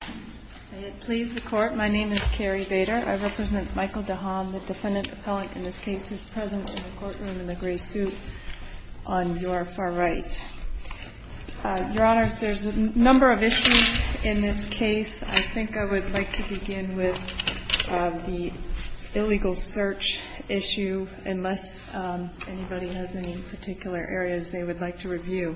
I represent Michael Dehamm, the defendant appellant in this case, who is present in the courtroom in the gray suit on your far right. Your Honors, there's a number of issues in this case. I think I would like to begin with the illegal search issue, unless anybody has any particular areas they would like to review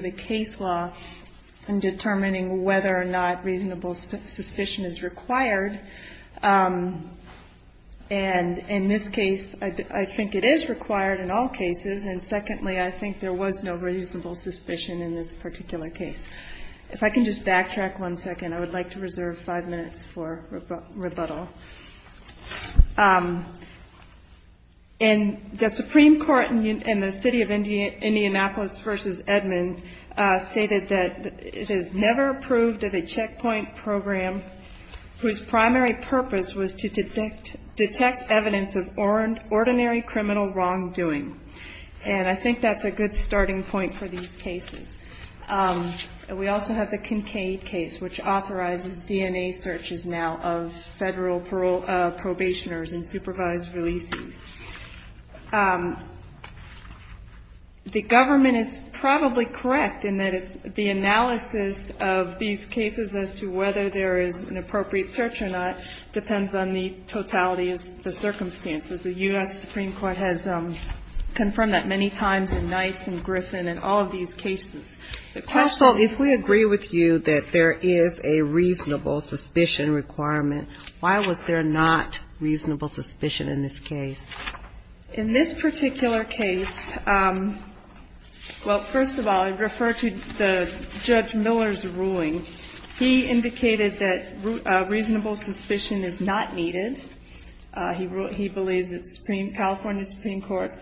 the case law in determining whether or not reasonable suspicion is required, and in this case, I think it is required in all cases, and secondly, I think there was no reasonable suspicion in this particular case. If I can just backtrack one second, I would like to reserve five minutes for rebuttal. The Supreme Court in the City of Indianapolis v. Edmond stated that it has never approved of a checkpoint program whose primary purpose was to detect evidence of ordinary criminal wrongdoing, and I think that's a good starting point for these cases. We also have the Kincaid case, which authorizes DNA searches now of federal probationers and supervised releases. The government is probably correct in that it's the analysis of these cases as to whether there is an appropriate search or not depends on the totality of the circumstances. The U.S. Supreme Court has confirmed that many times in Knights and Griffin and all of these cases. The question is... In this particular case, well, first of all, I'd refer to the Judge Miller's ruling. He indicated that reasonable suspicion is not needed. He believes that California Supreme Court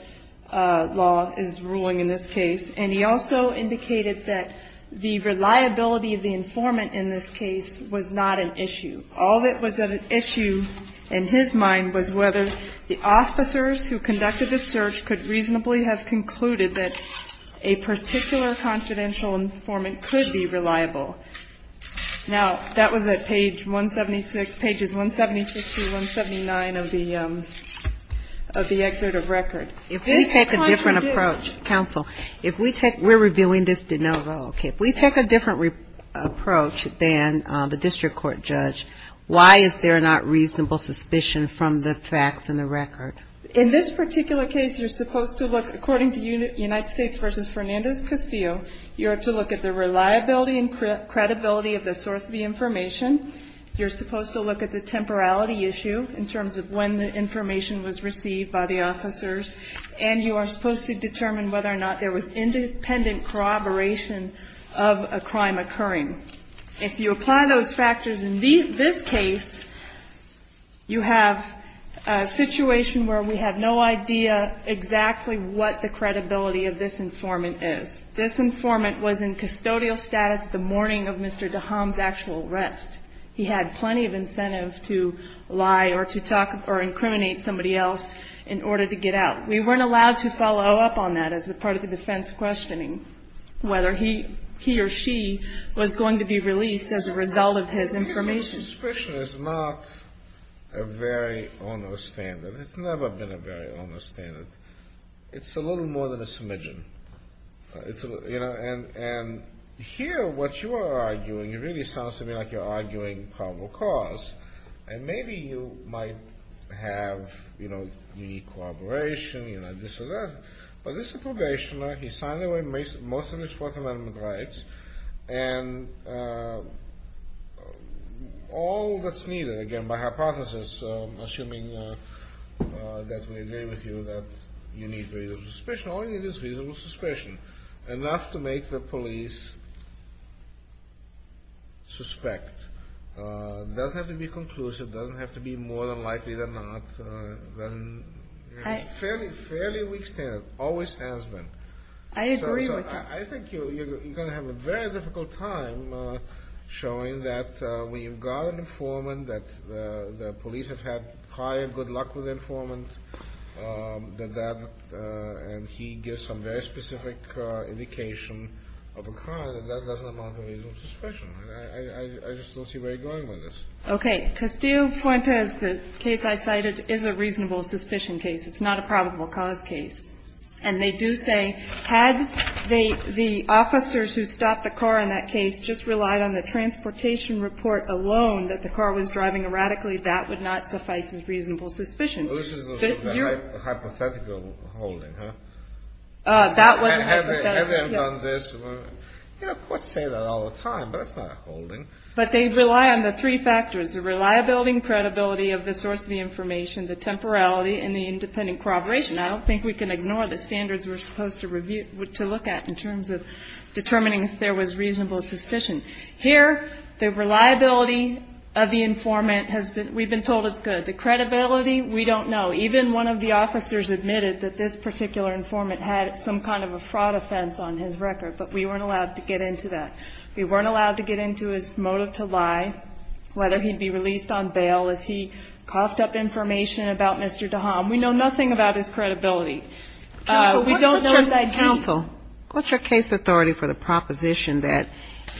law is ruling in this case, and he also indicated that the reliability of the informant in this case was not an issue. All that was an issue in his mind was whether the officers who conducted the search could reasonably have concluded that a particular confidential informant could be reliable. Now, that was at page 176, pages 176 through 179 of the excerpt of record. If we take a different approach, counsel, we're reviewing this de novo. If we take a different approach than the judge, we're reviewing the facts in the record. In this particular case, you're supposed to look, according to United States v. Fernandez-Castillo, you're to look at the reliability and credibility of the source of the information. You're supposed to look at the temporality issue in terms of when the information was received by the officers, and you are supposed to determine whether or not there was a situation where we have no idea exactly what the credibility of this informant is. This informant was in custodial status the morning of Mr. DeHomme's actual arrest. He had plenty of incentive to lie or to talk or incriminate somebody else in order to get out. We weren't allowed to follow up on that as part of the defense questioning whether he or she was going to be released as a result of his information. This discretion is not a very onerous standard. It's never been a very onerous standard. It's a little more than a smidgen. And here, what you are arguing, it really sounds to me like you're arguing probable cause. And maybe you might have unique corroboration, this or that. But this is a probation lawyer. He signed away most of his Fourth Amendment rights. And all that's needed, again, by hypothesis, assuming that we agree with you, that you need reasonable suspicion. All you need is reasonable suspicion. Enough to make the police suspect. It doesn't have to be conclusive. It doesn't have to be more than likely than not. Fairly weak standard. Always has been. I agree with you. I think you're going to have a very difficult time showing that when you've got an informant, that the police have had prior good luck with the informant, and he gives some very specific indication of a crime, that that doesn't amount to reasonable suspicion. I just don't see where you're going with this. Okay. Castile-Puente, the case I cited, is a reasonable suspicion case. It's not a probable cause case. And they do say, had they, the officers who stopped the car in that case just relied on the transportation report alone that the car was driving erratically, that would not suffice as reasonable suspicion. Well, this is hypothetical holding, huh? That wasn't hypothetical. Have they done this? You know, courts say that all the time, but it's not a holding. But they rely on the three factors, the reliability and credibility of the source of the information, the temporality and the independent corroboration. I don't think we can ignore the standards we're supposed to review, to look at, in terms of determining if there was reasonable suspicion. Here, the reliability of the informant has been, we've been told it's good. The credibility, we don't know. Even one of the officers admitted that this particular informant had some kind of a fraud offense on his record, but we weren't allowed to get into that. We weren't allowed to get into his motive to lie, whether he'd be released on bail, if he coughed up information about Mr. DeHaan. We know nothing about his credibility. Counsel, what's your case authority for the proposition that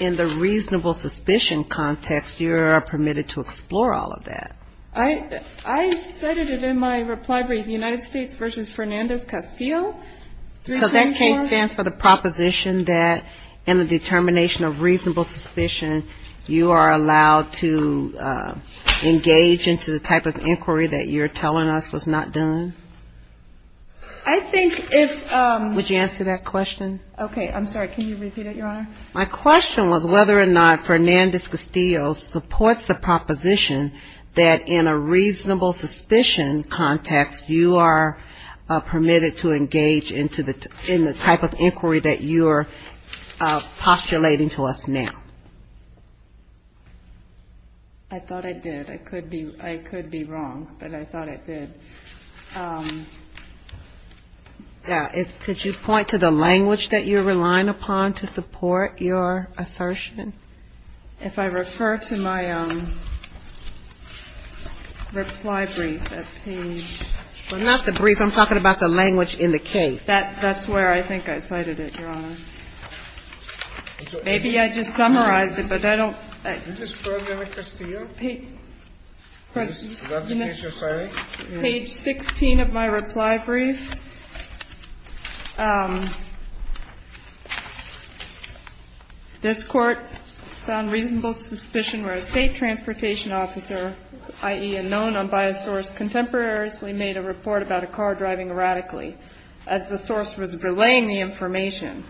in the reasonable suspicion context, you are permitted to explore all of that? I said it in my reply brief, United States v. Fernandez-Castillo. So that case stands for the proposition that in the determination of reasonable suspicion, you are allowed to engage into the type of inquiry that you're telling us was not done? I think if ‑‑ Would you answer that question? Okay. I'm sorry. Can you repeat it, Your Honor? My question was whether or not Fernandez-Castillo supports the proposition that in a reasonable suspicion context, you are permitted to engage in the type of inquiry that you are postulating to us now? I thought I did. I could be wrong, but I thought I did. Could you point to the language that you're relying upon to support your assertion? If I refer to my reply brief at page ‑‑ Well, not the brief. I'm talking about the language in the case. That's where I think I cited it, Your Honor. Maybe I just summarized it, but I don't ‑‑ Is this Fernandez-Castillo? Page 16 of my reply brief. This court found reasonable suspicion where a state transportation officer, i.e., a known unbiased source contemporaneously made a report about a car driving erratically as the source was relaying the information.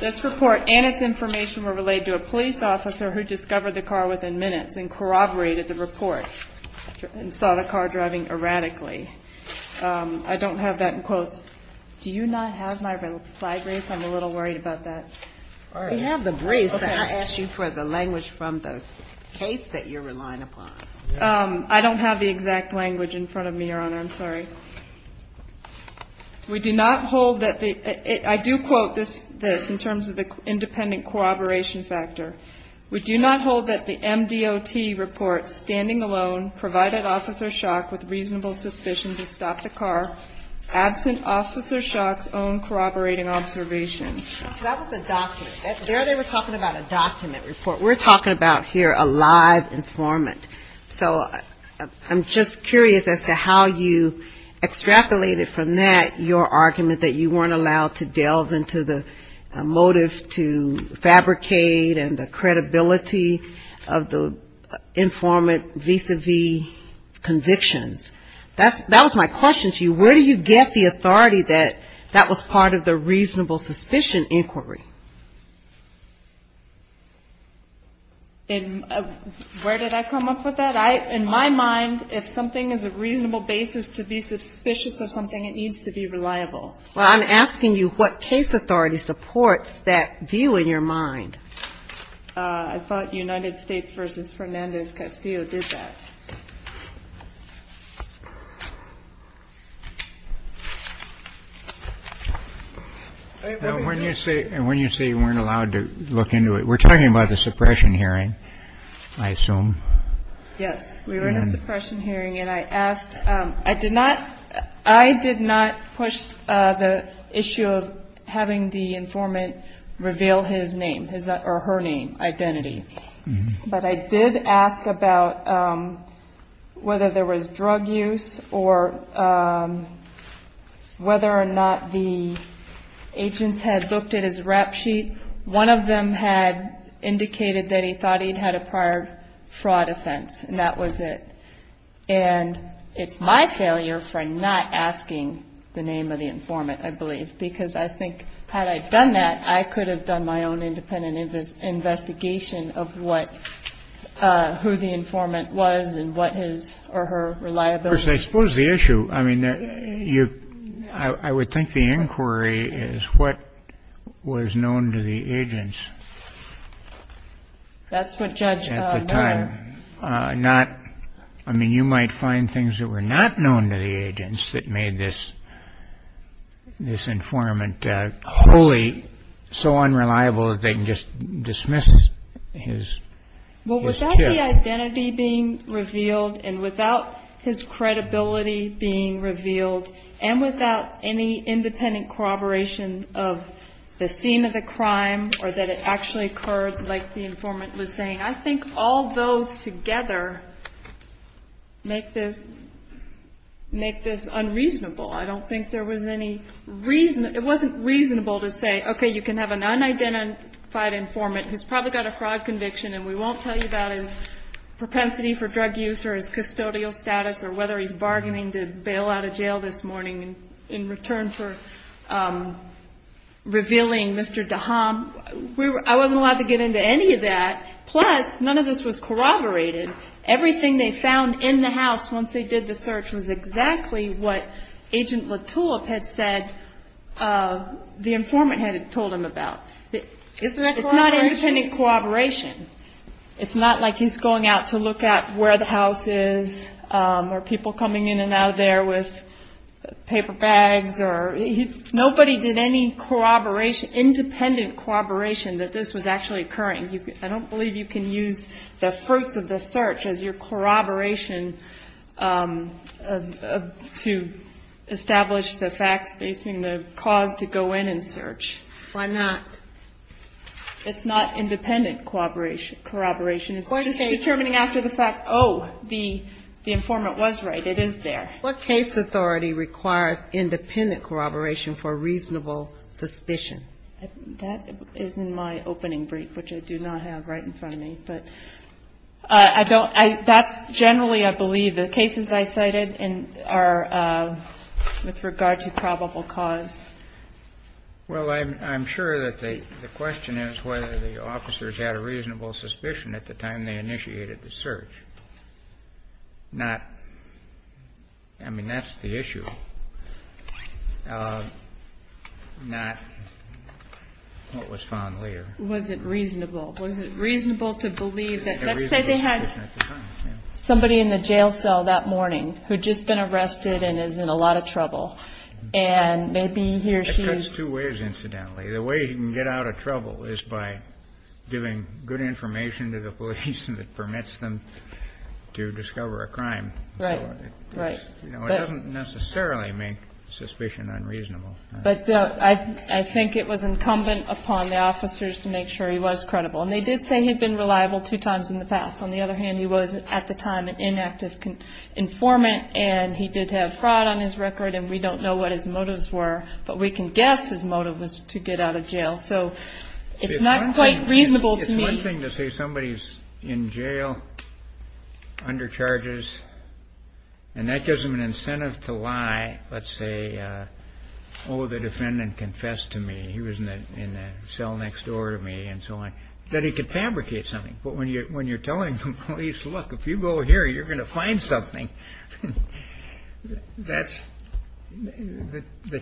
This report and its information were relayed to a police officer who discovered the car within minutes and corroborated the report and saw the car driving erratically. I don't have that in quotes. Do you not have my reply brief? I'm a little worried about that. We have the brief, but I asked you for the language from the case that you're relying upon. I don't have the exact language in front of me, Your Honor. I'm sorry. We do not hold that the ‑‑ I do quote this in terms of the independent corroboration factor. We do not hold that the MDOT report standing alone provided Officer Schock with reasonable suspicion to stop the car absent Officer Schock's own corroborating observations. That was a document. There they were talking about a document report. We're talking about here a live informant. So I'm just curious as to how you extrapolated from that your argument that you weren't allowed to delve into the motive to fabricate and the credibility of the informant vis‑a‑vis convictions. That was my question to you. Where do you get the authority that that was part of the reasonable suspicion inquiry? And where did I come up with that? In my mind, if something is a reasonable basis to be suspicious of something, it needs to be reliable. Well, I'm asking you what case authority supports that view in your mind. I thought United States v. Fernandez-Castillo did that. When you say you weren't allowed to look into it, we're talking about the suppression hearing, I assume. Yes, we were in a suppression hearing. I did not push the issue of having the informant reveal his name or her name, identity. But I did ask about whether there was drug use or whether or not the agents had looked at his rap sheet. One of them had indicated that he thought he'd had a prior fraud offense, and that was it. And it's my failure for not asking the name of the informant, I believe, because I think had I done that, I could have done my own independent investigation of who the informant was and what his or her reliability was. Of course, I suppose the issue, I mean, I would think the inquiry is what was known to the agents at the time. I mean, you might find things that were not known to the agents that made this informant wholly so unreliable that they can just dismiss his tip. Well, without the identity being revealed and without his credibility being revealed and without any independent corroboration of the scene of the crime or that it actually occurred like the informant was saying, I think all those together make this unreasonable. I don't think there was any reason, it wasn't reasonable to say, okay, you can have an unidentified informant who's probably got a fraud conviction and we won't tell you about his propensity for drug use or his custodial status or whether he's bargaining to bail out of jail this morning in return for revealing Mr. Daham. I wasn't allowed to get into any of that. Plus, none of this was corroborated. Everything they found in the house once they did the search was exactly what Agent Latulip had said the informant had told him about. It's not independent corroboration. It's not like he's going out to look at where the house is or people coming in and out of there with paper bags. Nobody did any independent corroboration that this was actually occurring. I don't believe you can use the fruits of the search as your corroboration to establish the facts facing the cause to go in and search. Why not? It's not independent corroboration. It's just determining after the fact, oh, the informant was right, it is there. What case authority requires independent corroboration for reasonable suspicion? That is in my opening brief, which I do not have right in front of me. But I don't – that's generally, I believe, the cases I cited are with regard to probable cause. Well, I'm sure that the question is whether the officers had a reasonable suspicion at the time they initiated the search. I mean, that's the issue, not what was found later. Was it reasonable? Let's say they had somebody in the jail cell that morning who had just been arrested and is in a lot of trouble. And maybe he or she – I don't know. I don't know. But I think it was incumbent upon the officers to make sure he was credible. And they did say he'd been reliable two times in the past. On the other hand, he was, at the time, an inactive informant, and he did have fraud on his record, and we don't know what his motives were, but we can guess his motive was to get out of jail. So it's not quite reasonable to me. It's one thing to say somebody's in jail, under charges, and that gives them an incentive to lie. Let's say, oh, the defendant confessed to me. He was in the cell next door to me and so on. Then he could fabricate something. But when you're telling the police, look, if you go here, you're going to find something, the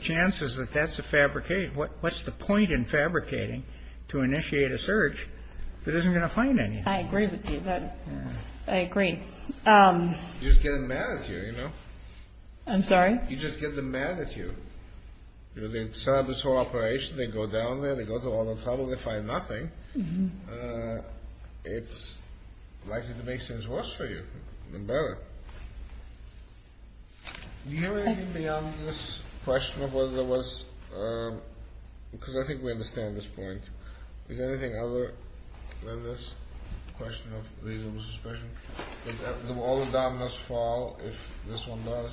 chance is that that's a fabricate. What's the point in fabricating to initiate a search if it isn't going to find anything? I agree with you. You just get them mad at you. I'm sorry? You just get them mad at you. They set up this whole operation. They go down there. They go through all the trouble. They find nothing. It's likely to make things worse for you, even better. Do you have anything beyond this question of whether there was—because I think we understand this point. Is there anything other than this question of reasonable suspicion? All the dominoes fall if this one does?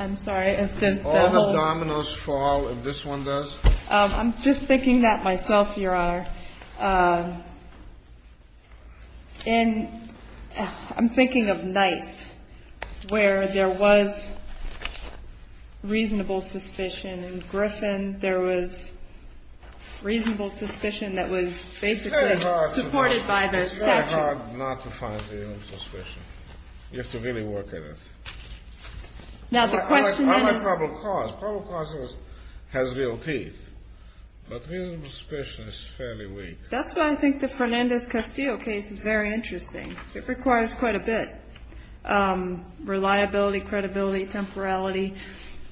I'm sorry? All the dominoes fall if this one does? I'm just thinking that myself, Your Honor. I'm thinking of nights where there was reasonable suspicion. In Griffin, there was reasonable suspicion that was basically supported by the section. It's very hard not to find reasonable suspicion. You have to really work at it. Public cause has real teeth, but reasonable suspicion is fairly weak. That's why I think the Fernandez-Castillo case is very interesting. It requires quite a bit. Reliability, credibility, temporality.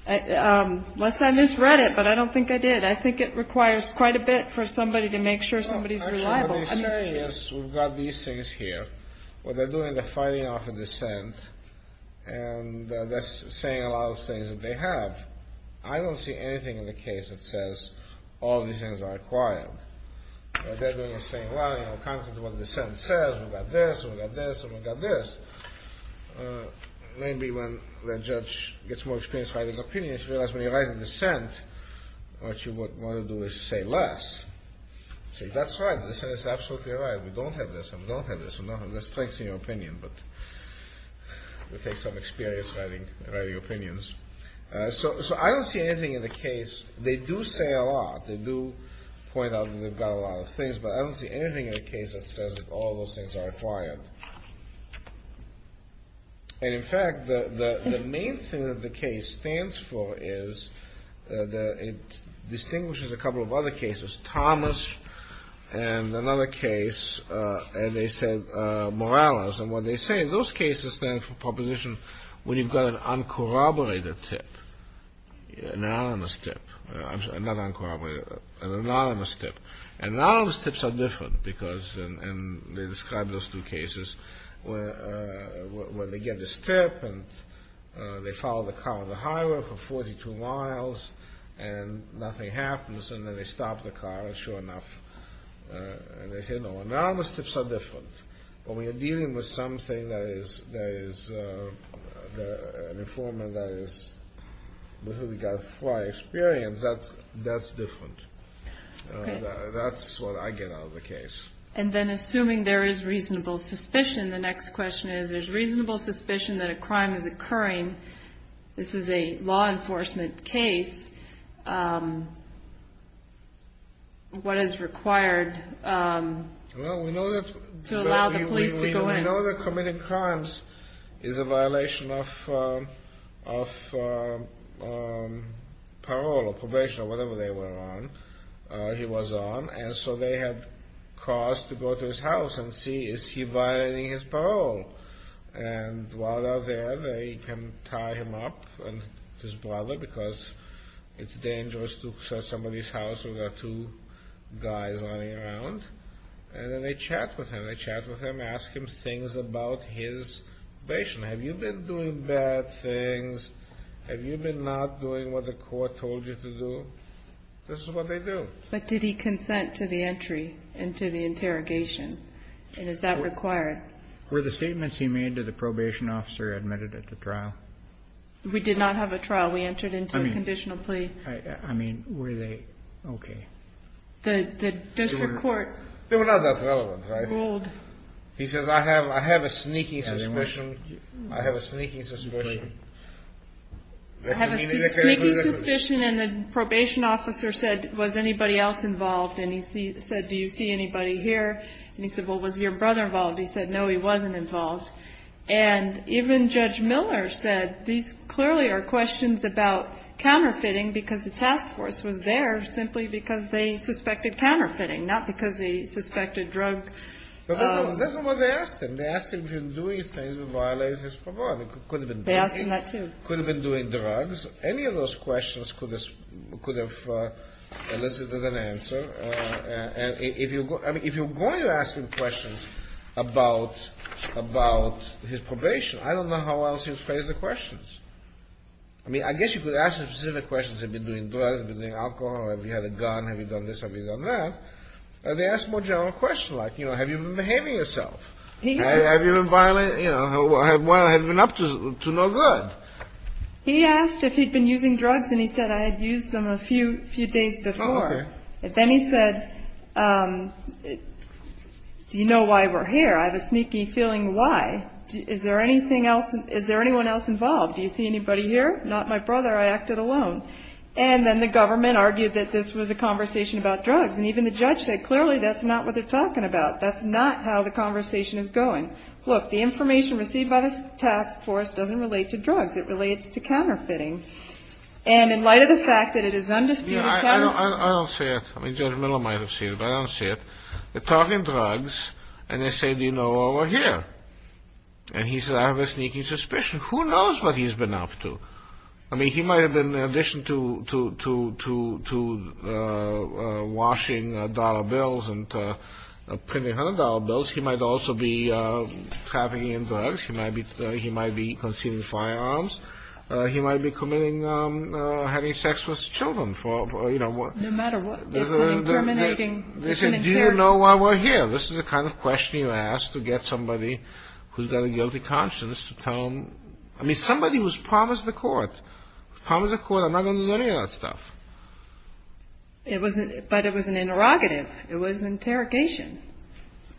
Unless I misread it, but I don't think I did. I think it requires quite a bit for somebody to make sure somebody's reliable. What they're saying is we've got these things here. What they're doing, they're fighting off a dissent, and they're saying a lot of things that they have. I don't see anything in the case that says all these things are required. What they're doing is saying, well, you know, contrary to what the dissent says, we've got this, we've got this, and we've got this. Maybe when the judge gets more experience writing opinions, he realizes when you write a dissent, what you want to do is say less. That's right, the dissent is absolutely right. We don't have this, we don't have this. So I don't see anything in the case. They do say a lot. They do point out that they've got a lot of things, but I don't see anything in the case that says all those things are required. And in fact, the main thing that the case stands for is that it distinguishes a couple of other cases, Thomas and another case, and they said Morales. And what they say, those cases stand for proposition when you've got an uncorroborated tip, an anonymous tip, not uncorroborated, an anonymous tip. Anonymous tips are different, because they describe those two cases where they get this tip and they follow the car on the highway for 42 miles and nothing happens, and then they stop the car, sure enough, and they say, no, anonymous tips are different. But when you're dealing with something that is, an informant that is, with regard to prior experience, that's different. That's what I get out of the case. And then assuming there is reasonable suspicion, the next question is, there's reasonable suspicion that a crime is occurring, this is a law enforcement case, what is required to allow the police to go in? Well, we know that committing crimes is a violation of parole or probation or whatever they were on, he was on, and so they had cars to go to his house and see, is he violating his parole? And while they're there, they can tie him up and his brother, because it's dangerous to search somebody's house when there are two guys running around, and then they chat with him, they chat with him, ask him things about his probation. Have you been doing bad things? Have you been not doing what the court told you to do? This is what they do. But did he consent to the entry and to the interrogation, and is that required? Were the statements he made to the probation officer admitted at the trial? We did not have a trial. We entered into a conditional plea. I mean, were they, okay. They were not that relevant, right? He says, I have a sneaky suspicion. I have a sneaky suspicion, and the probation officer said, was anybody else involved? And he said, do you see anybody here? And he said, well, was your brother involved? He said, no, he wasn't involved. And even Judge Miller said, these clearly are questions about counterfeiting, because the task force was there simply because they suspected counterfeiting, not because they suspected drug. They asked him if he was doing things that violated his probation. Any of those questions could have elicited an answer, and if you're going to ask him questions about his probation, I don't know how else you would phrase the questions. I mean, I guess you could ask him specific questions, have you been doing drugs, have you been doing alcohol, have you had a gun, have you done this, have you done that. They ask more general questions, like, you know, have you been behaving yourself? Have you been violent, you know, have you been up to no good? He asked if he'd been using drugs, and he said, I had used them a few days before. And then he said, do you know why we're here? I have a sneaky feeling why. Is there anything else, is there anyone else involved? Do you see anybody here? Not my brother, I acted alone. And then the government argued that this was a conversation about drugs, and even the judge said, clearly that's not what they're talking about. That's not how the conversation is going. Look, the information received by the task force doesn't relate to drugs. It relates to counterfeiting. And in light of the fact that it is undisputed government. I don't see it. Judge Miller might have seen it, but I don't see it. They're talking drugs, and they say, do you know why we're here? And he says, I have a sneaky suspicion. Who knows what he's been up to? I mean, he might have been, in addition to washing dollar bills and printing hundred dollar bills, he might also be trafficking in drugs. He might be concealing firearms. He might be committing having sex with children. No matter what, it's an incriminating, it's an interrogation. They say, do you know why we're here? This is the kind of question you ask to get somebody who's got a guilty conscience to tell them. I mean, somebody who's promised the court, promised the court, I'm not going to do any of that stuff. But it was an interrogative. It was an interrogation.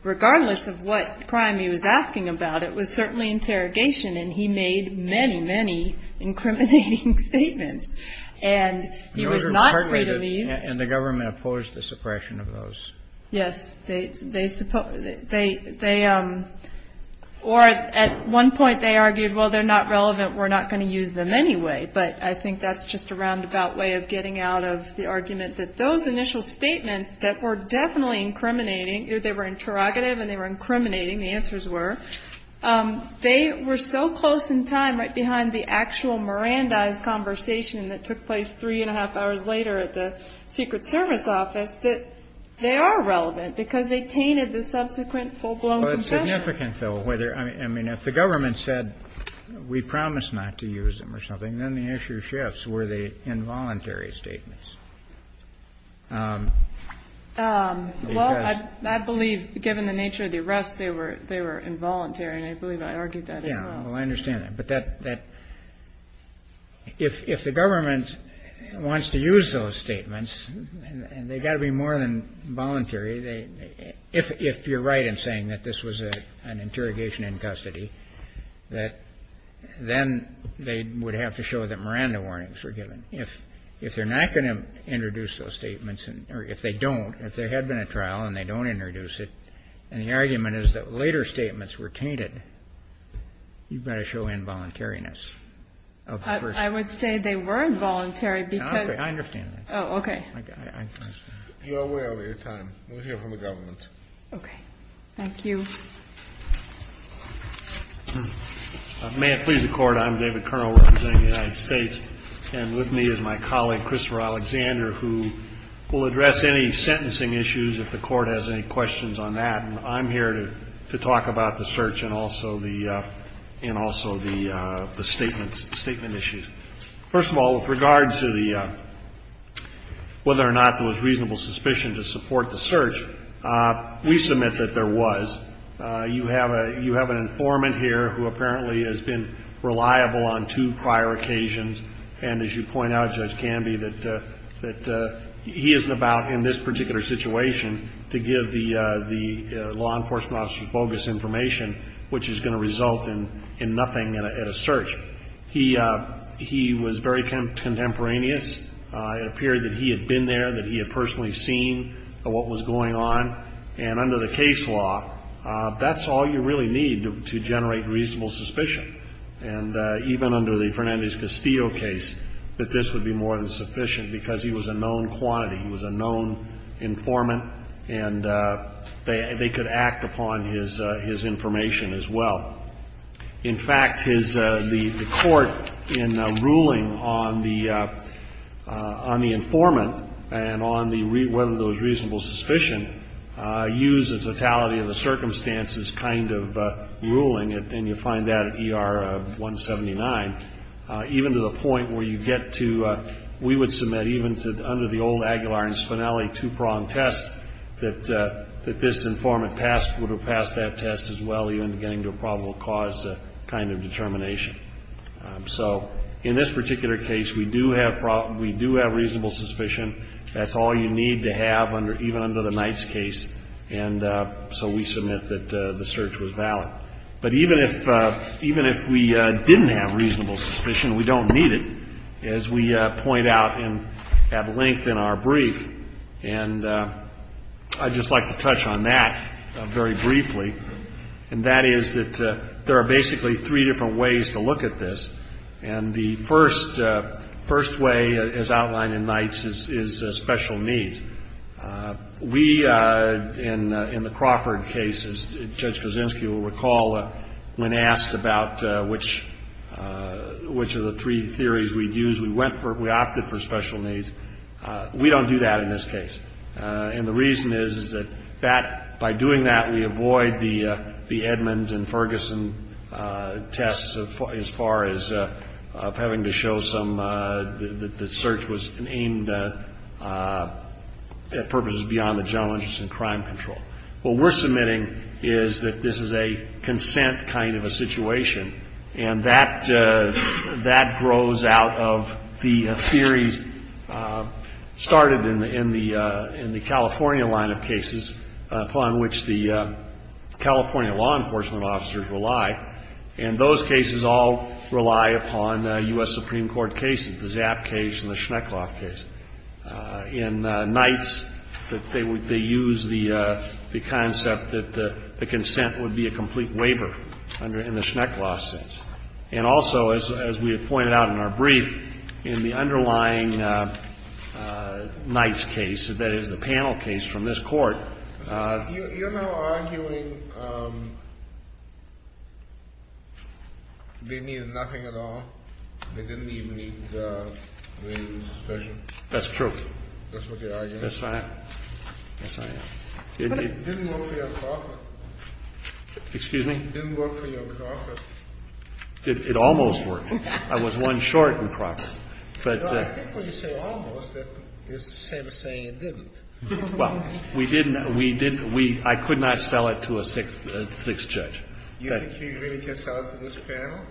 Regardless of what crime he was asking about, it was certainly interrogation, and he made many, many incriminating statements. And he was not free to leave. And the government opposed the suppression of those. Yes. They, or at one point they argued, well, they're not relevant, we're not going to use them anyway. But I think that's just a roundabout way of getting out of the argument that those initial statements that were definitely incriminating, they were interrogative and they were incriminating, the answers were, they were so close in time, right behind the actual Mirandize conversation that took place three and a half hours later at the Secret Service office, that they are relevant because they tainted the subsequent full-blown confession. Well, it's significant, though, whether, I mean, if the government said we promise not to use them or something, then the issue shifts. Were they involuntary statements? Well, I believe, given the nature of the arrest, they were involuntary. And I believe I argued that as well. Yeah. Well, I understand that. But that, if the government wants to use those statements, and they've got to be more than voluntary, if you're right in saying that this was an interrogation in custody, that then they would have to show that Miranda warnings were given. If they're not going to introduce those statements, or if they don't, if there had been a trial and they don't introduce it, and the argument is that later statements were tainted, you've got to show involuntariness of the person. I would say they were involuntary because... I understand that. Oh, okay. You're way over your time. We'll hear from the government. Okay. Thank you. May it please the Court. I'm David Kernel representing the United States. And with me is my colleague, Christopher Alexander, who will address any sentencing issues, if the Court has any questions on that. And I'm here to talk about the search and also the statements, statement issues. First of all, with regards to whether or not there was reasonable suspicion to support the search, we submit that there was. You have an informant here who apparently has been reliable on two prior occasions. And as you point out, Judge Canby, that he isn't about, in this particular situation, to give the law enforcement officers bogus information, which is going to result in nothing at a search. He was very contemporaneous. It appeared that he had been there, that he had personally seen what was going on. And under the case law, that's all you really need to generate reasonable suspicion. And even under the Fernandez-Castillo case, that this would be more than sufficient because he was a known quantity. He was a known informant. And they could act upon his information as well. In fact, the Court, in ruling on the informant and on whether there was reasonable suspicion, use the totality of the circumstances kind of ruling it, and you find that at ER 179, even to the point where you get to we would submit even under the old Aguilar and Spinelli two-prong test that this informant would have passed that test as well, even getting to a probable cause kind of determination. So in this particular case, we do have reasonable suspicion. That's all you need to have even under the Knights case. And so we submit that the search was valid. But even if we didn't have reasonable suspicion, we don't need it, as we point out at length in our brief. And I'd just like to touch on that very briefly. And that is that there are basically three different ways to look at this. And the first way, as outlined in Knights, is special needs. We, in the Crawford case, as Judge Kozinski will recall, when asked about which of the three theories we'd use, we went for, we opted for special needs. We don't do that in this case. And the reason is, is that that, by doing that, we avoid the Edmonds and Ferguson tests as far as having to show some, that the search was aimed at purposes beyond the general interest in crime control. What we're submitting is that this is a consent kind of a situation, and that grows out of the theories started in the California line of cases, upon which the California law enforcement officers rely. And those cases all rely upon U.S. Supreme Court cases, the Zapp case and the Schneckloff case. In Knights, they use the concept that the consent would be a complete waiver in the Schneckloff sense. And also, as we have pointed out in our brief, in the underlying Knights case, that is the panel case from this Court. You're now arguing they needed nothing at all? They didn't even need the special? That's true. That's what you're arguing. Yes, I am. Yes, I am. But it didn't work for your Crawford. Excuse me? It didn't work for your Crawford. It almost worked. I was one short in Crawford. I think when you say almost, it's the same as saying it didn't. Well, we didn't. We didn't. I could not sell it to a sixth judge. You think you really can sell it to this panel?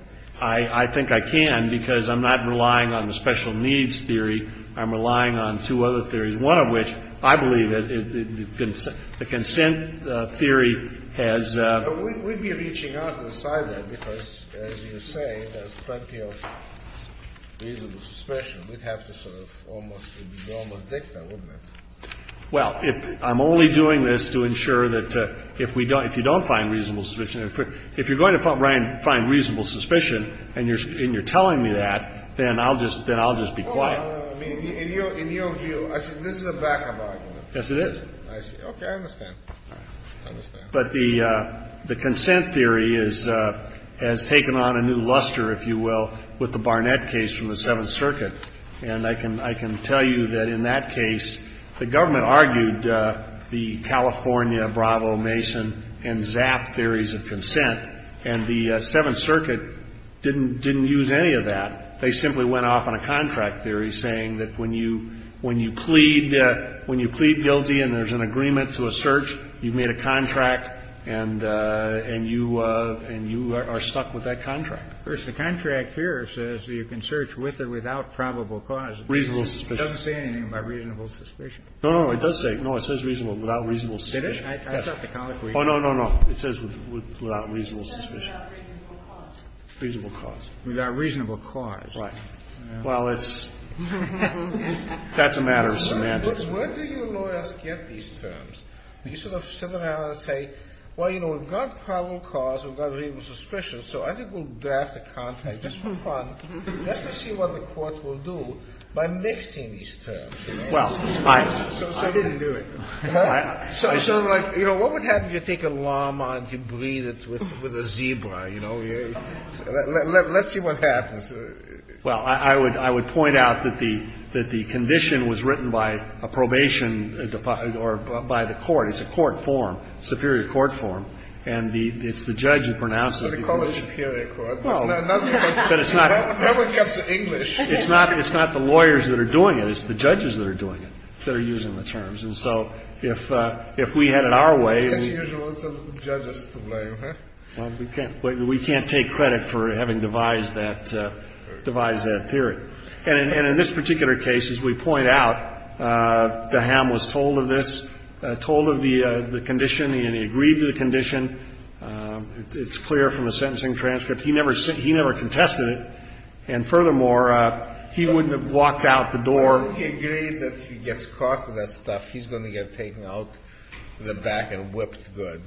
I think I can, because I'm not relying on the special needs theory. I'm relying on two other theories, one of which, I believe, the consent theory has We'd be reaching out to decide that, because, as you say, there's plenty of reasonable suspicion. We'd have to sort of almost, it would be almost dicta, wouldn't it? Well, I'm only doing this to ensure that if we don't, if you don't find reasonable suspicion, if you're going to find reasonable suspicion and you're telling me that, then I'll just be quiet. No, no, no. In your view, this is a backup argument. Yes, it is. I see. Okay, I understand. But the consent theory has taken on a new luster, if you will, with the Barnett case from the Seventh Circuit. And I can tell you that in that case, the government argued the California, Bravo, Mason, and Zapp theories of consent, and the Seventh Circuit didn't use any of that. They simply went off on a contract theory saying that when you plead guilty and there's an agreement to a search, you've made a contract, and you are stuck with that contract. Of course, the contract here says that you can search with or without probable cause. Reasonable suspicion. It doesn't say anything about reasonable suspicion. No, no, it does say. No, it says reasonable, without reasonable suspicion. Did it? Oh, no, no, no. It says without reasonable suspicion. Without reasonable cause. Reasonable cause. Without reasonable cause. Right. Well, it's, that's a matter of semantics. Where do your lawyers get these terms? Do you sort of sit them down and say, well, you know, we've got probable cause, we've got reasonable suspicion, so I think we'll draft a contract just for fun just to see what the court will do by mixing these terms? Well, I didn't do it. So I'm like, you know, what would happen if you take a llama and you breed it with a zebra, you know? Let's see what happens. Well, I would point out that the condition was written by a probation or by the court. It's a court form, superior court form, and it's the judge who pronounced it. So they call it superior court. Well, but it's not. No one gets English. It's not the lawyers that are doing it. It's the judges that are doing it, that are using the terms. And so if we had it our way, we. As usual, it's the judges to blame, huh? Well, we can't take credit for having devised that theory. And in this particular case, as we point out, the ham was told of this, told of the condition, and he agreed to the condition. It's clear from the sentencing transcript. He never contested it, and furthermore, he wouldn't have walked out the door. Well, if he agreed that if he gets caught with that stuff, he's going to get taken out the back and whipped good.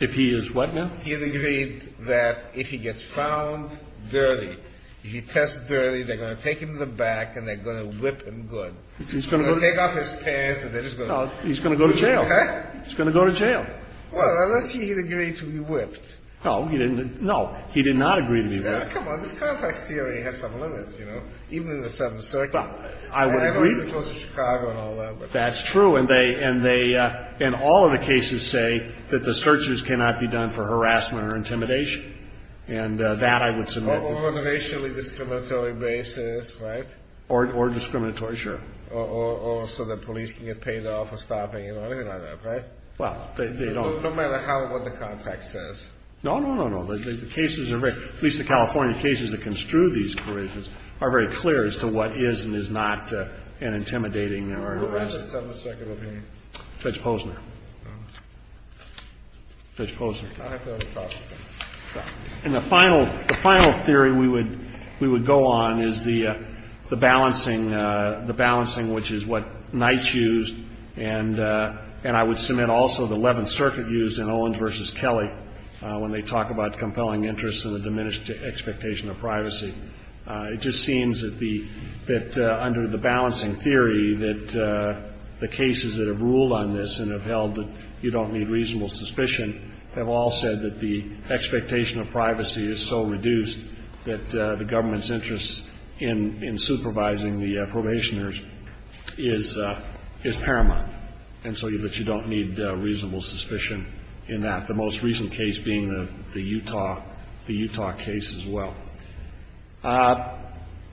If he is what now? He agreed that if he gets found dirty, if he tests dirty, they're going to take him to the back and they're going to whip him good. They're going to take off his pants and they're just going to. No, he's going to go to jail. Okay. He's going to go to jail. Well, unless he agreed to be whipped. No, he didn't. No, he did not agree to be whipped. Yeah, come on. This context theory has some limits, you know, even in the Seventh Circuit. I would agree. And I wasn't close to Chicago and all that. That's true. And they, in all of the cases, say that the searches cannot be done for harassment or intimidation. And that I would submit. On a racially discriminatory basis, right? Or discriminatory, sure. Or so the police can get paid off for stopping, you know, anything like that, right? Well, they don't. No matter how, what the context says. No, no, no, no. The cases are very, at least the California cases that construe these operations, are very clear as to what is and is not an intimidating or harassment. Judge Posner. Judge Posner. I'll have to have a talk with him. And the final, the final theory we would, we would go on is the, the balancing, the balancing, which is what Knights used. And, and I would submit also the Eleventh Circuit used in Owens v. Kelly, when they talk about compelling interests and the diminished expectation of privacy. It just seems that the, that under the balancing theory that the cases that have ruled on this and have held that you don't need reasonable suspicion, have all said that the expectation of privacy is so reduced that the government's interest in, in supervising the probationers is, is paramount. And so that you don't need reasonable suspicion in that. The most recent case being the, the Utah, the Utah case as well.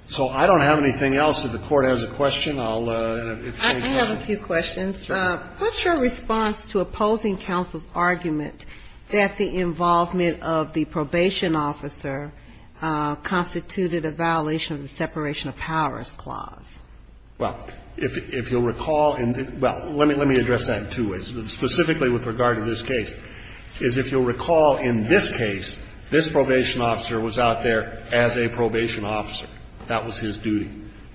So I don't have anything else. If the Court has a question, I'll. I have a few questions. Sure. What's your response to opposing counsel's argument that the involvement of the probation officer constituted a violation of the separation of powers clause? Well, if, if you'll recall in the, well, let me, let me address that in two ways. Specifically with regard to this case, is if you'll recall in this case, this probation officer was out there as a probation officer. That was his duty.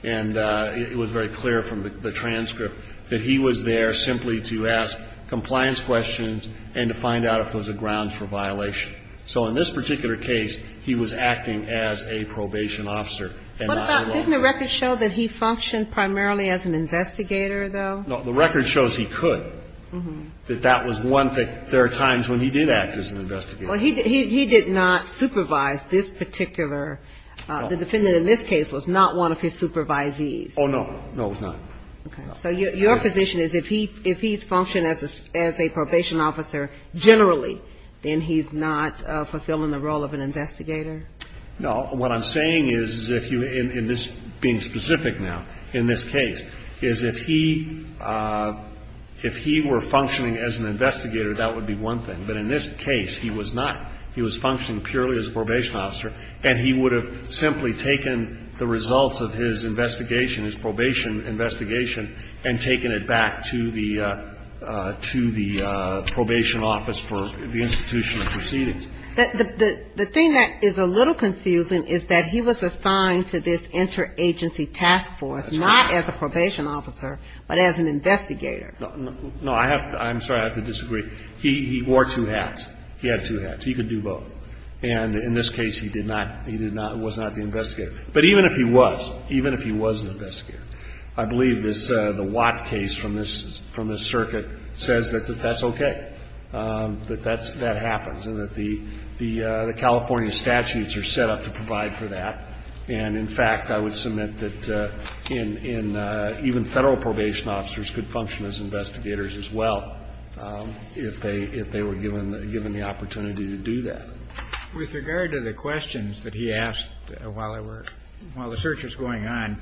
And it was very clear from the, the transcript that he was there simply to ask compliance questions and to find out if there was a grounds for violation. So in this particular case, he was acting as a probation officer. What about, didn't the record show that he functioned primarily as an investigator, though? No. The record shows he could. That that was one thing. There are times when he did act as an investigator. Well, he, he, he did not supervise this particular, the defendant in this case was not one of his supervisees. Oh, no. No, it was not. Okay. So your, your position is if he, if he's functioned as a, as a probation officer generally, then he's not fulfilling the role of an investigator? No. What I'm saying is, is if you, in, in this being specific now, in this case, is if he, if he were functioning as an investigator, that would be one thing. But in this case, he was not. He was functioning purely as a probation officer. And he would have simply taken the results of his investigation, his probation investigation, and taken it back to the, to the probation office for the institution of proceedings. The, the, the thing that is a little confusing is that he was assigned to this interagency task force. That's right. Not as a probation officer, but as an investigator. No, no. No, I have to, I'm sorry, I have to disagree. He, he wore two hats. He had two hats. He could do both. And in this case, he did not, he did not, was not the investigator. But even if he was, even if he was an investigator, I believe this, the Watt case from this, from this circuit says that that's okay. That that's, that happens. And that the, the, the California statutes are set up to provide for that. And in fact, I would submit that in, in even federal probation officers could function as investigators as well if they, if they were given, given the opportunity to do that. With regard to the questions that he asked while I were, while the search was going on,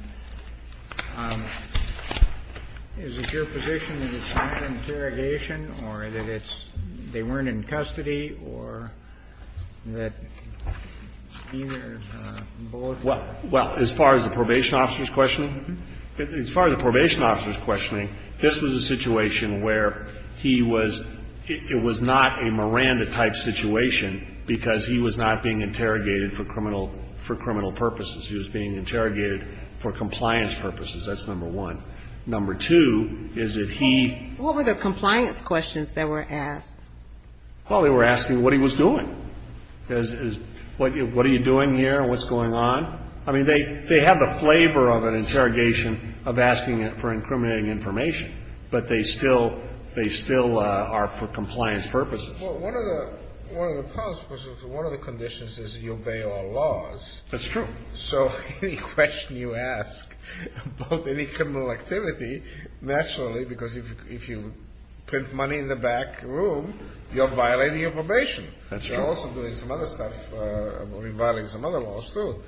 is it your position that it's not an interrogation or that it's, they weren't in custody or that either both? Well, as far as the probation officer's questioning, as far as the probation officer's questioning, this was a situation where he was, it was not a Miranda-type situation because he was not being interrogated for criminal, for criminal purposes. He was being interrogated for compliance purposes. That's number one. Number two is that he. What were the compliance questions that were asked? Well, they were asking what he was doing. Is, is, what, what are you doing here? What's going on? I mean, they, they have the flavor of an interrogation of asking for incriminating information. But they still, they still are for compliance purposes. Well, one of the, one of the problems was that one of the conditions is that you obey all laws. That's true. So any question you ask about any criminal activity, naturally, because if you print money in the back room, you're violating your probation. That's right. You're also doing some other stuff, violating some other laws, too.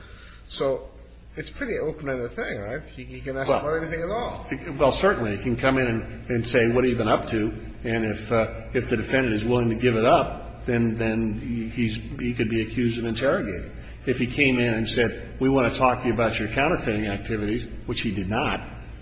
So it's pretty open-ended thing, right? He can ask about anything at all. Well, certainly. He can come in and say what have you been up to. And if, if the defendant is willing to give it up, then, then he's, he could be accused of interrogating. If he came in and said we want to talk to you about your counterfeiting activities, which he did not,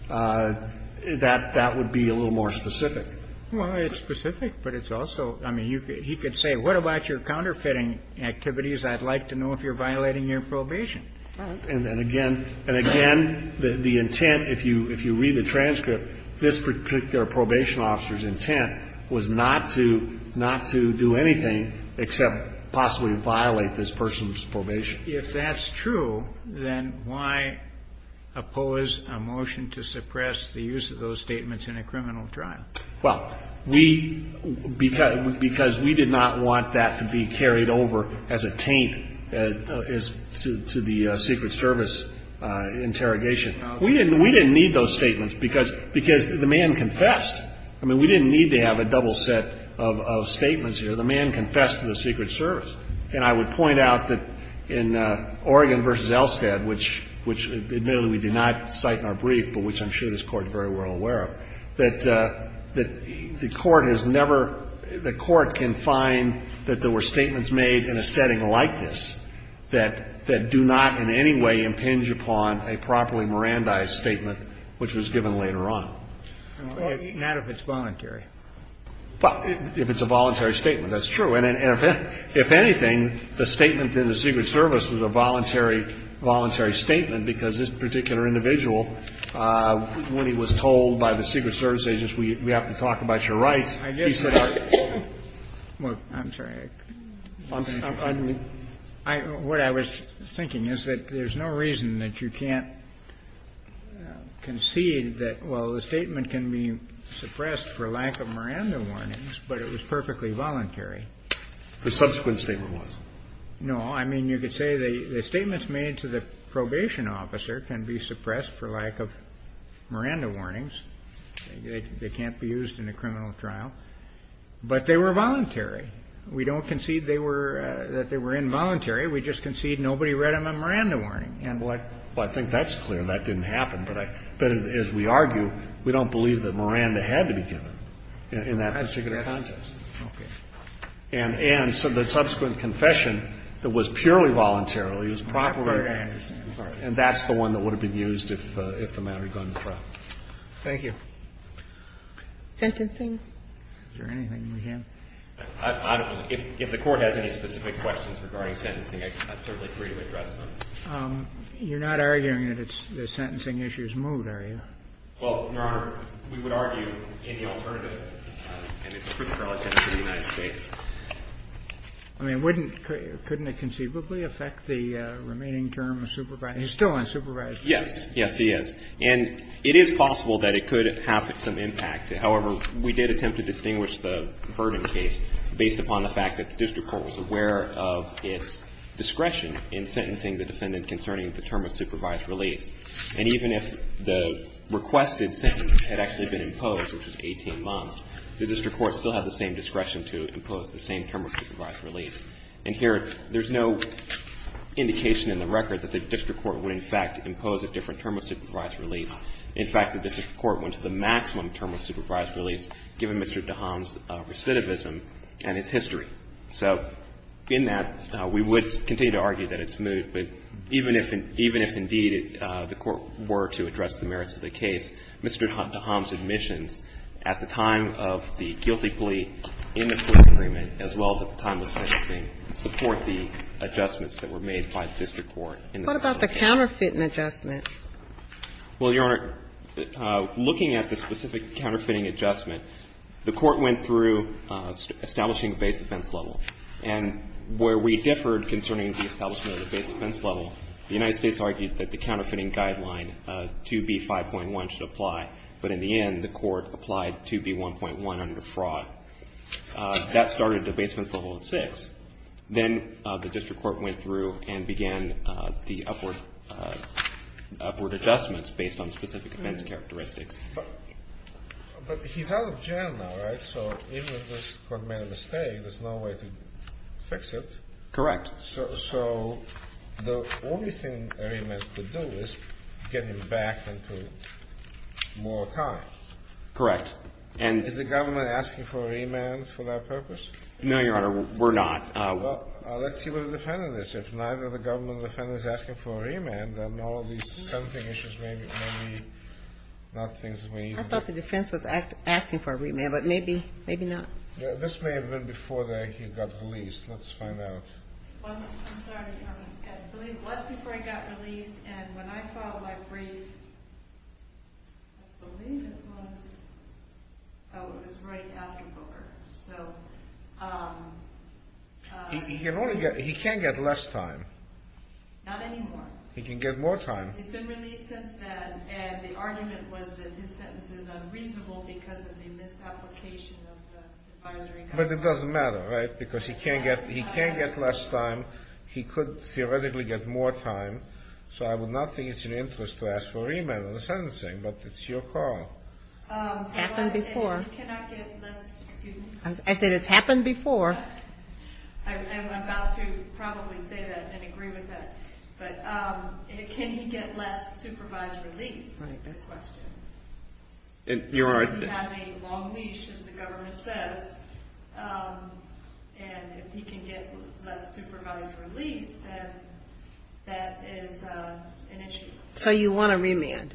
that, that would be a little more specific. Well, it's specific, but it's also, I mean, you could, he could say what about your counterfeiting activities I'd like to know if you're violating your probation. And then again, and again, the intent, if you, if you read the transcript, this particular probation officer's intent was not to, not to do anything except possibly violate this person's probation. If that's true, then why oppose a motion to suppress the use of those statements in a criminal trial? Well, we, because, because we did not want that to be carried over as a taint to the Secret Service interrogation. We didn't, we didn't need those statements because, because the man confessed. I mean, we didn't need to have a double set of statements here. The man confessed to the Secret Service. And I would point out that in Oregon v. Elstad, which, which admittedly we did not cite in our brief, but which I'm sure this Court is very well aware of, that, that the Court has never, the Court can find that there were statements made in a setting like this that, that do not in any way impinge upon a properly Mirandized statement, which was given later on. Not if it's voluntary. Well, if it's a voluntary statement, that's true. And if anything, the statement in the Secret Service was a voluntary, voluntary statement because this particular individual, when he was told by the Secret Service agents, we, we have to talk about your rights, he said. Well, I'm sorry. I, what I was thinking is that there's no reason that you can't concede that, well, the statement can be suppressed for lack of Miranda warnings, but it was perfectly voluntary. The subsequent statement wasn't. No. I mean, you could say the, the statements made to the probation officer can be suppressed for lack of Miranda warnings. They, they can't be used in a criminal trial. But they were voluntary. We don't concede they were, that they were involuntary. We just concede nobody read them a Miranda warning. And what. Well, I think that's clear. I mean, that didn't happen. But I, but as we argue, we don't believe that Miranda had to be given in, in that particular context. Okay. And, and so the subsequent confession that was purely voluntarily is properly and that's the one that would have been used if, if the matter had gone to trial. Thank you. Sentencing? Is there anything we can? I, I don't know. If, if the Court has any specific questions regarding sentencing, I'm certainly free to address them. You're not arguing that it's, the sentencing issue's moved, are you? Well, Your Honor, we would argue in the alternative, and it's strictly relative to the United States. I mean, wouldn't, couldn't it conceivably affect the remaining term of supervisory? He's still on supervisory. Yes. Yes, he is. And it is possible that it could have some impact. However, we did attempt to distinguish the Verdin case based upon the fact that the term of supervised release. And even if the requested sentence had actually been imposed, which was 18 months, the district court still had the same discretion to impose the same term of supervised release. And here, there's no indication in the record that the district court would in fact impose a different term of supervised release. In fact, the district court went to the maximum term of supervised release given Mr. DeHaan's recidivism and his history. So in that, we would continue to argue that it's moved. But even if, even if, indeed, the court were to address the merits of the case, Mr. DeHaan's admissions at the time of the guilty plea in the first agreement as well as at the time of the sentencing support the adjustments that were made by the district court. What about the counterfeiting adjustment? Well, Your Honor, looking at the specific counterfeiting adjustment, the court went through establishing a base defense level. And where we differed concerning the establishment of the base defense level, the United States argued that the counterfeiting guideline 2B.5.1 should apply. But in the end, the court applied 2B.1.1 under fraud. That started the base defense level at 6. Then the district court went through and began the upward adjustments based on specific defense characteristics. But he's out of jail now, right? So even if this court made a mistake, there's no way to fix it. Correct. So the only thing a remand could do is get him back into more time. Correct. And is the government asking for a remand for that purpose? No, Your Honor, we're not. Well, let's see what the defendant is. If neither the government or the defendant is asking for a remand, then all of these I thought the defense was asking for a remand, but maybe not. This may have been before he got released. Let's find out. I'm sorry. I believe it was before he got released. And when I filed my brief, I believe it was right after Booker. He can't get less time. Not anymore. He can get more time. He's been released since then, and the argument was that his sentence is unreasonable because of the misapplication of the advisory. But it doesn't matter, right? Because he can't get less time. He could theoretically get more time. So I would not think it's an interest to ask for a remand on the sentencing, but it's your call. It's happened before. He cannot get less time. I said it's happened before. I'm about to probably say that and agree with that. But can he get less supervised release? That's the question. Does he have a long leash, as the government says? And if he can get less supervised release, then that is an issue. So you want a remand.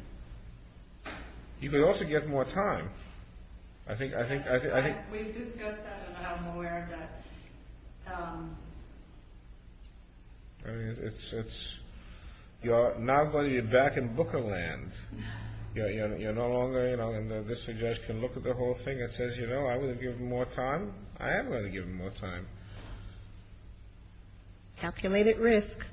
You could also get more time. We've discussed that, and I'm aware of that. It's not whether you're back in booker land. You're no longer, you know, and this judge can look at the whole thing and says, you know, I'm going to give him more time. I am going to give him more time. Calculated risk.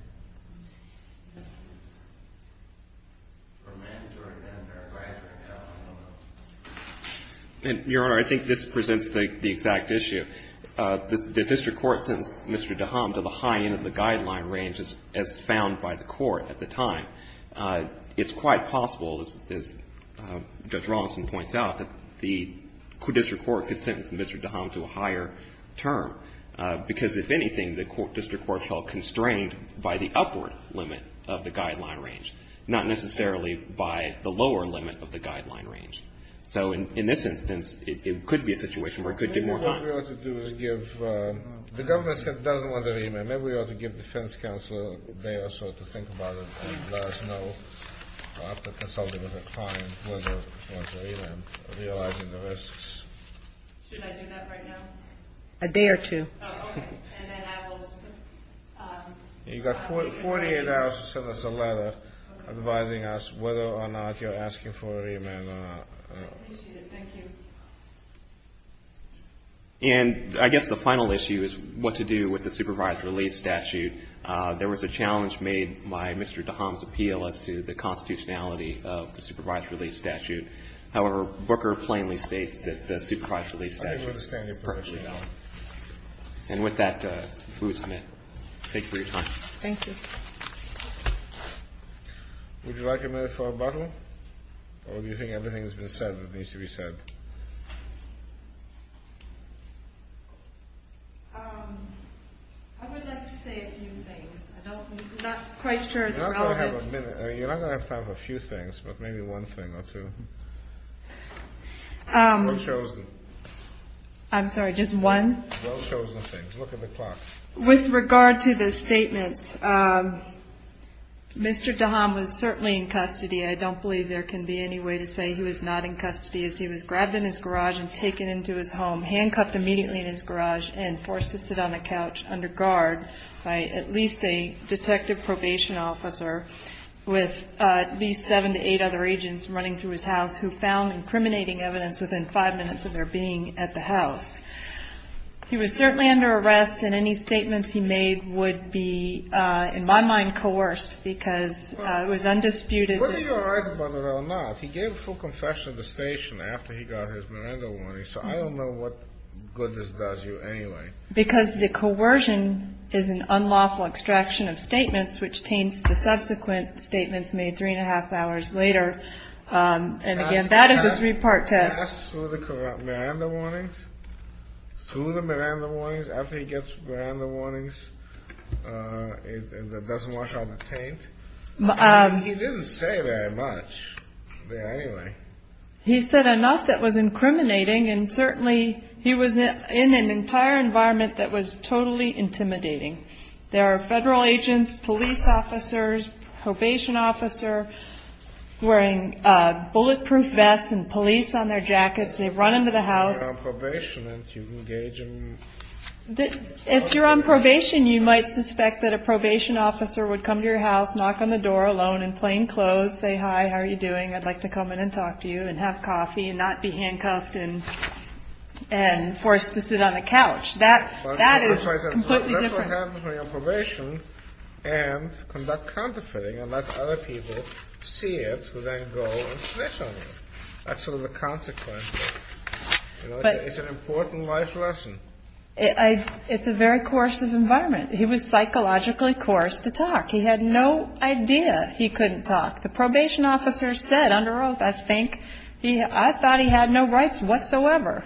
Your Honor, I think this presents the exact issue. The district court sentenced Mr. Daham to the high end of the guideline range as found by the court at the time. It's quite possible, as Judge Rawson points out, that the district court could sentence Mr. Daham to a higher term, because if anything, the district court felt constrained by the upward limit of the guideline range, not necessarily by the lower limit of the guideline range. So in this instance, it could be a situation where it could get more time. The government said it doesn't want a remand. Maybe we ought to give defense counsel a day or so to think about it and let us know after consulting with a client whether he wants a remand, realizing the risks. Should I do that right now? A day or two. Oh, okay. You've got 48 hours to send us a letter advising us whether or not you're asking for a remand or not. I appreciate it. Thank you. And I guess the final issue is what to do with the supervised release statute. There was a challenge made by Mr. Daham's appeal as to the constitutionality of the supervised release statute. However, Booker plainly states that the supervised release statute is perfectly valid. And with that, we'll submit. Thank you for your time. Thank you. Would you like a minute for a bottle? Or do you think everything that's been said needs to be said? I would like to say a few things. I'm not quite sure it's relevant. You're not going to have time for a few things, but maybe one thing or two. Who chose them? I'm sorry, just one? Who chose the things? Look at the clock. With regard to the statements, Mr. Daham was certainly in custody. I don't believe there can be any way to say he was not in custody as he was grabbed in his garage and taken into his home, handcuffed immediately in his garage and forced to sit on a couch under guard by at least a detective probation officer with at least seven to eight other agents running through his house who found incriminating evidence within five minutes of their being at the house. He was certainly under arrest, and any statements he made would be, in my mind, coerced because it was undisputed. Whether you're right about it or not, he gave a full confession at the station after he got his Miranda warning, so I don't know what goodness does you anyway. Because the coercion is an unlawful extraction of statements, which taints the subsequent statements made three and a half hours later. And again, that is a three part test. Through the Miranda warnings. Through the Miranda warnings. After he gets Miranda warnings, it doesn't wash out the taint. He didn't say very much there anyway. He said enough that was incriminating, and certainly he was in an entire environment that was totally intimidating. There are federal agents, police officers, probation officer wearing bulletproof vests and police on their jackets. They run into the house. If you're on probation, you might suspect that a probation officer would come to your house, knock on the door alone in plain clothes, say, hi, how are you doing? I'd like to come in and talk to you and have coffee and not be handcuffed and forced to sit on the couch. That is completely different. That's what happens when you're on probation and conduct counterfeiting and let other people see it, who then go and snitch on you. That's sort of the consequence. It's an important life lesson. It's a very coercive environment. He was psychologically coerced to talk. He had no idea he couldn't talk. The probation officer said under oath, I think, I thought he had no rights whatsoever.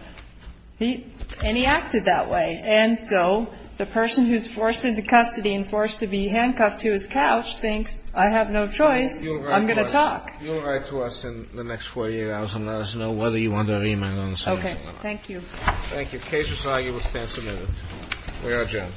And he acted that way. And so the person who's forced into custody and forced to be handcuffed to his couch thinks, I have no choice. I'm going to talk. You'll write to us in the next 48 hours and let us know whether you want a remand on something like that. Okay. Thank you. Case is argued. We'll stand submitted. We are adjourned. All rise. Court is adjourned. Thank you. Thank you.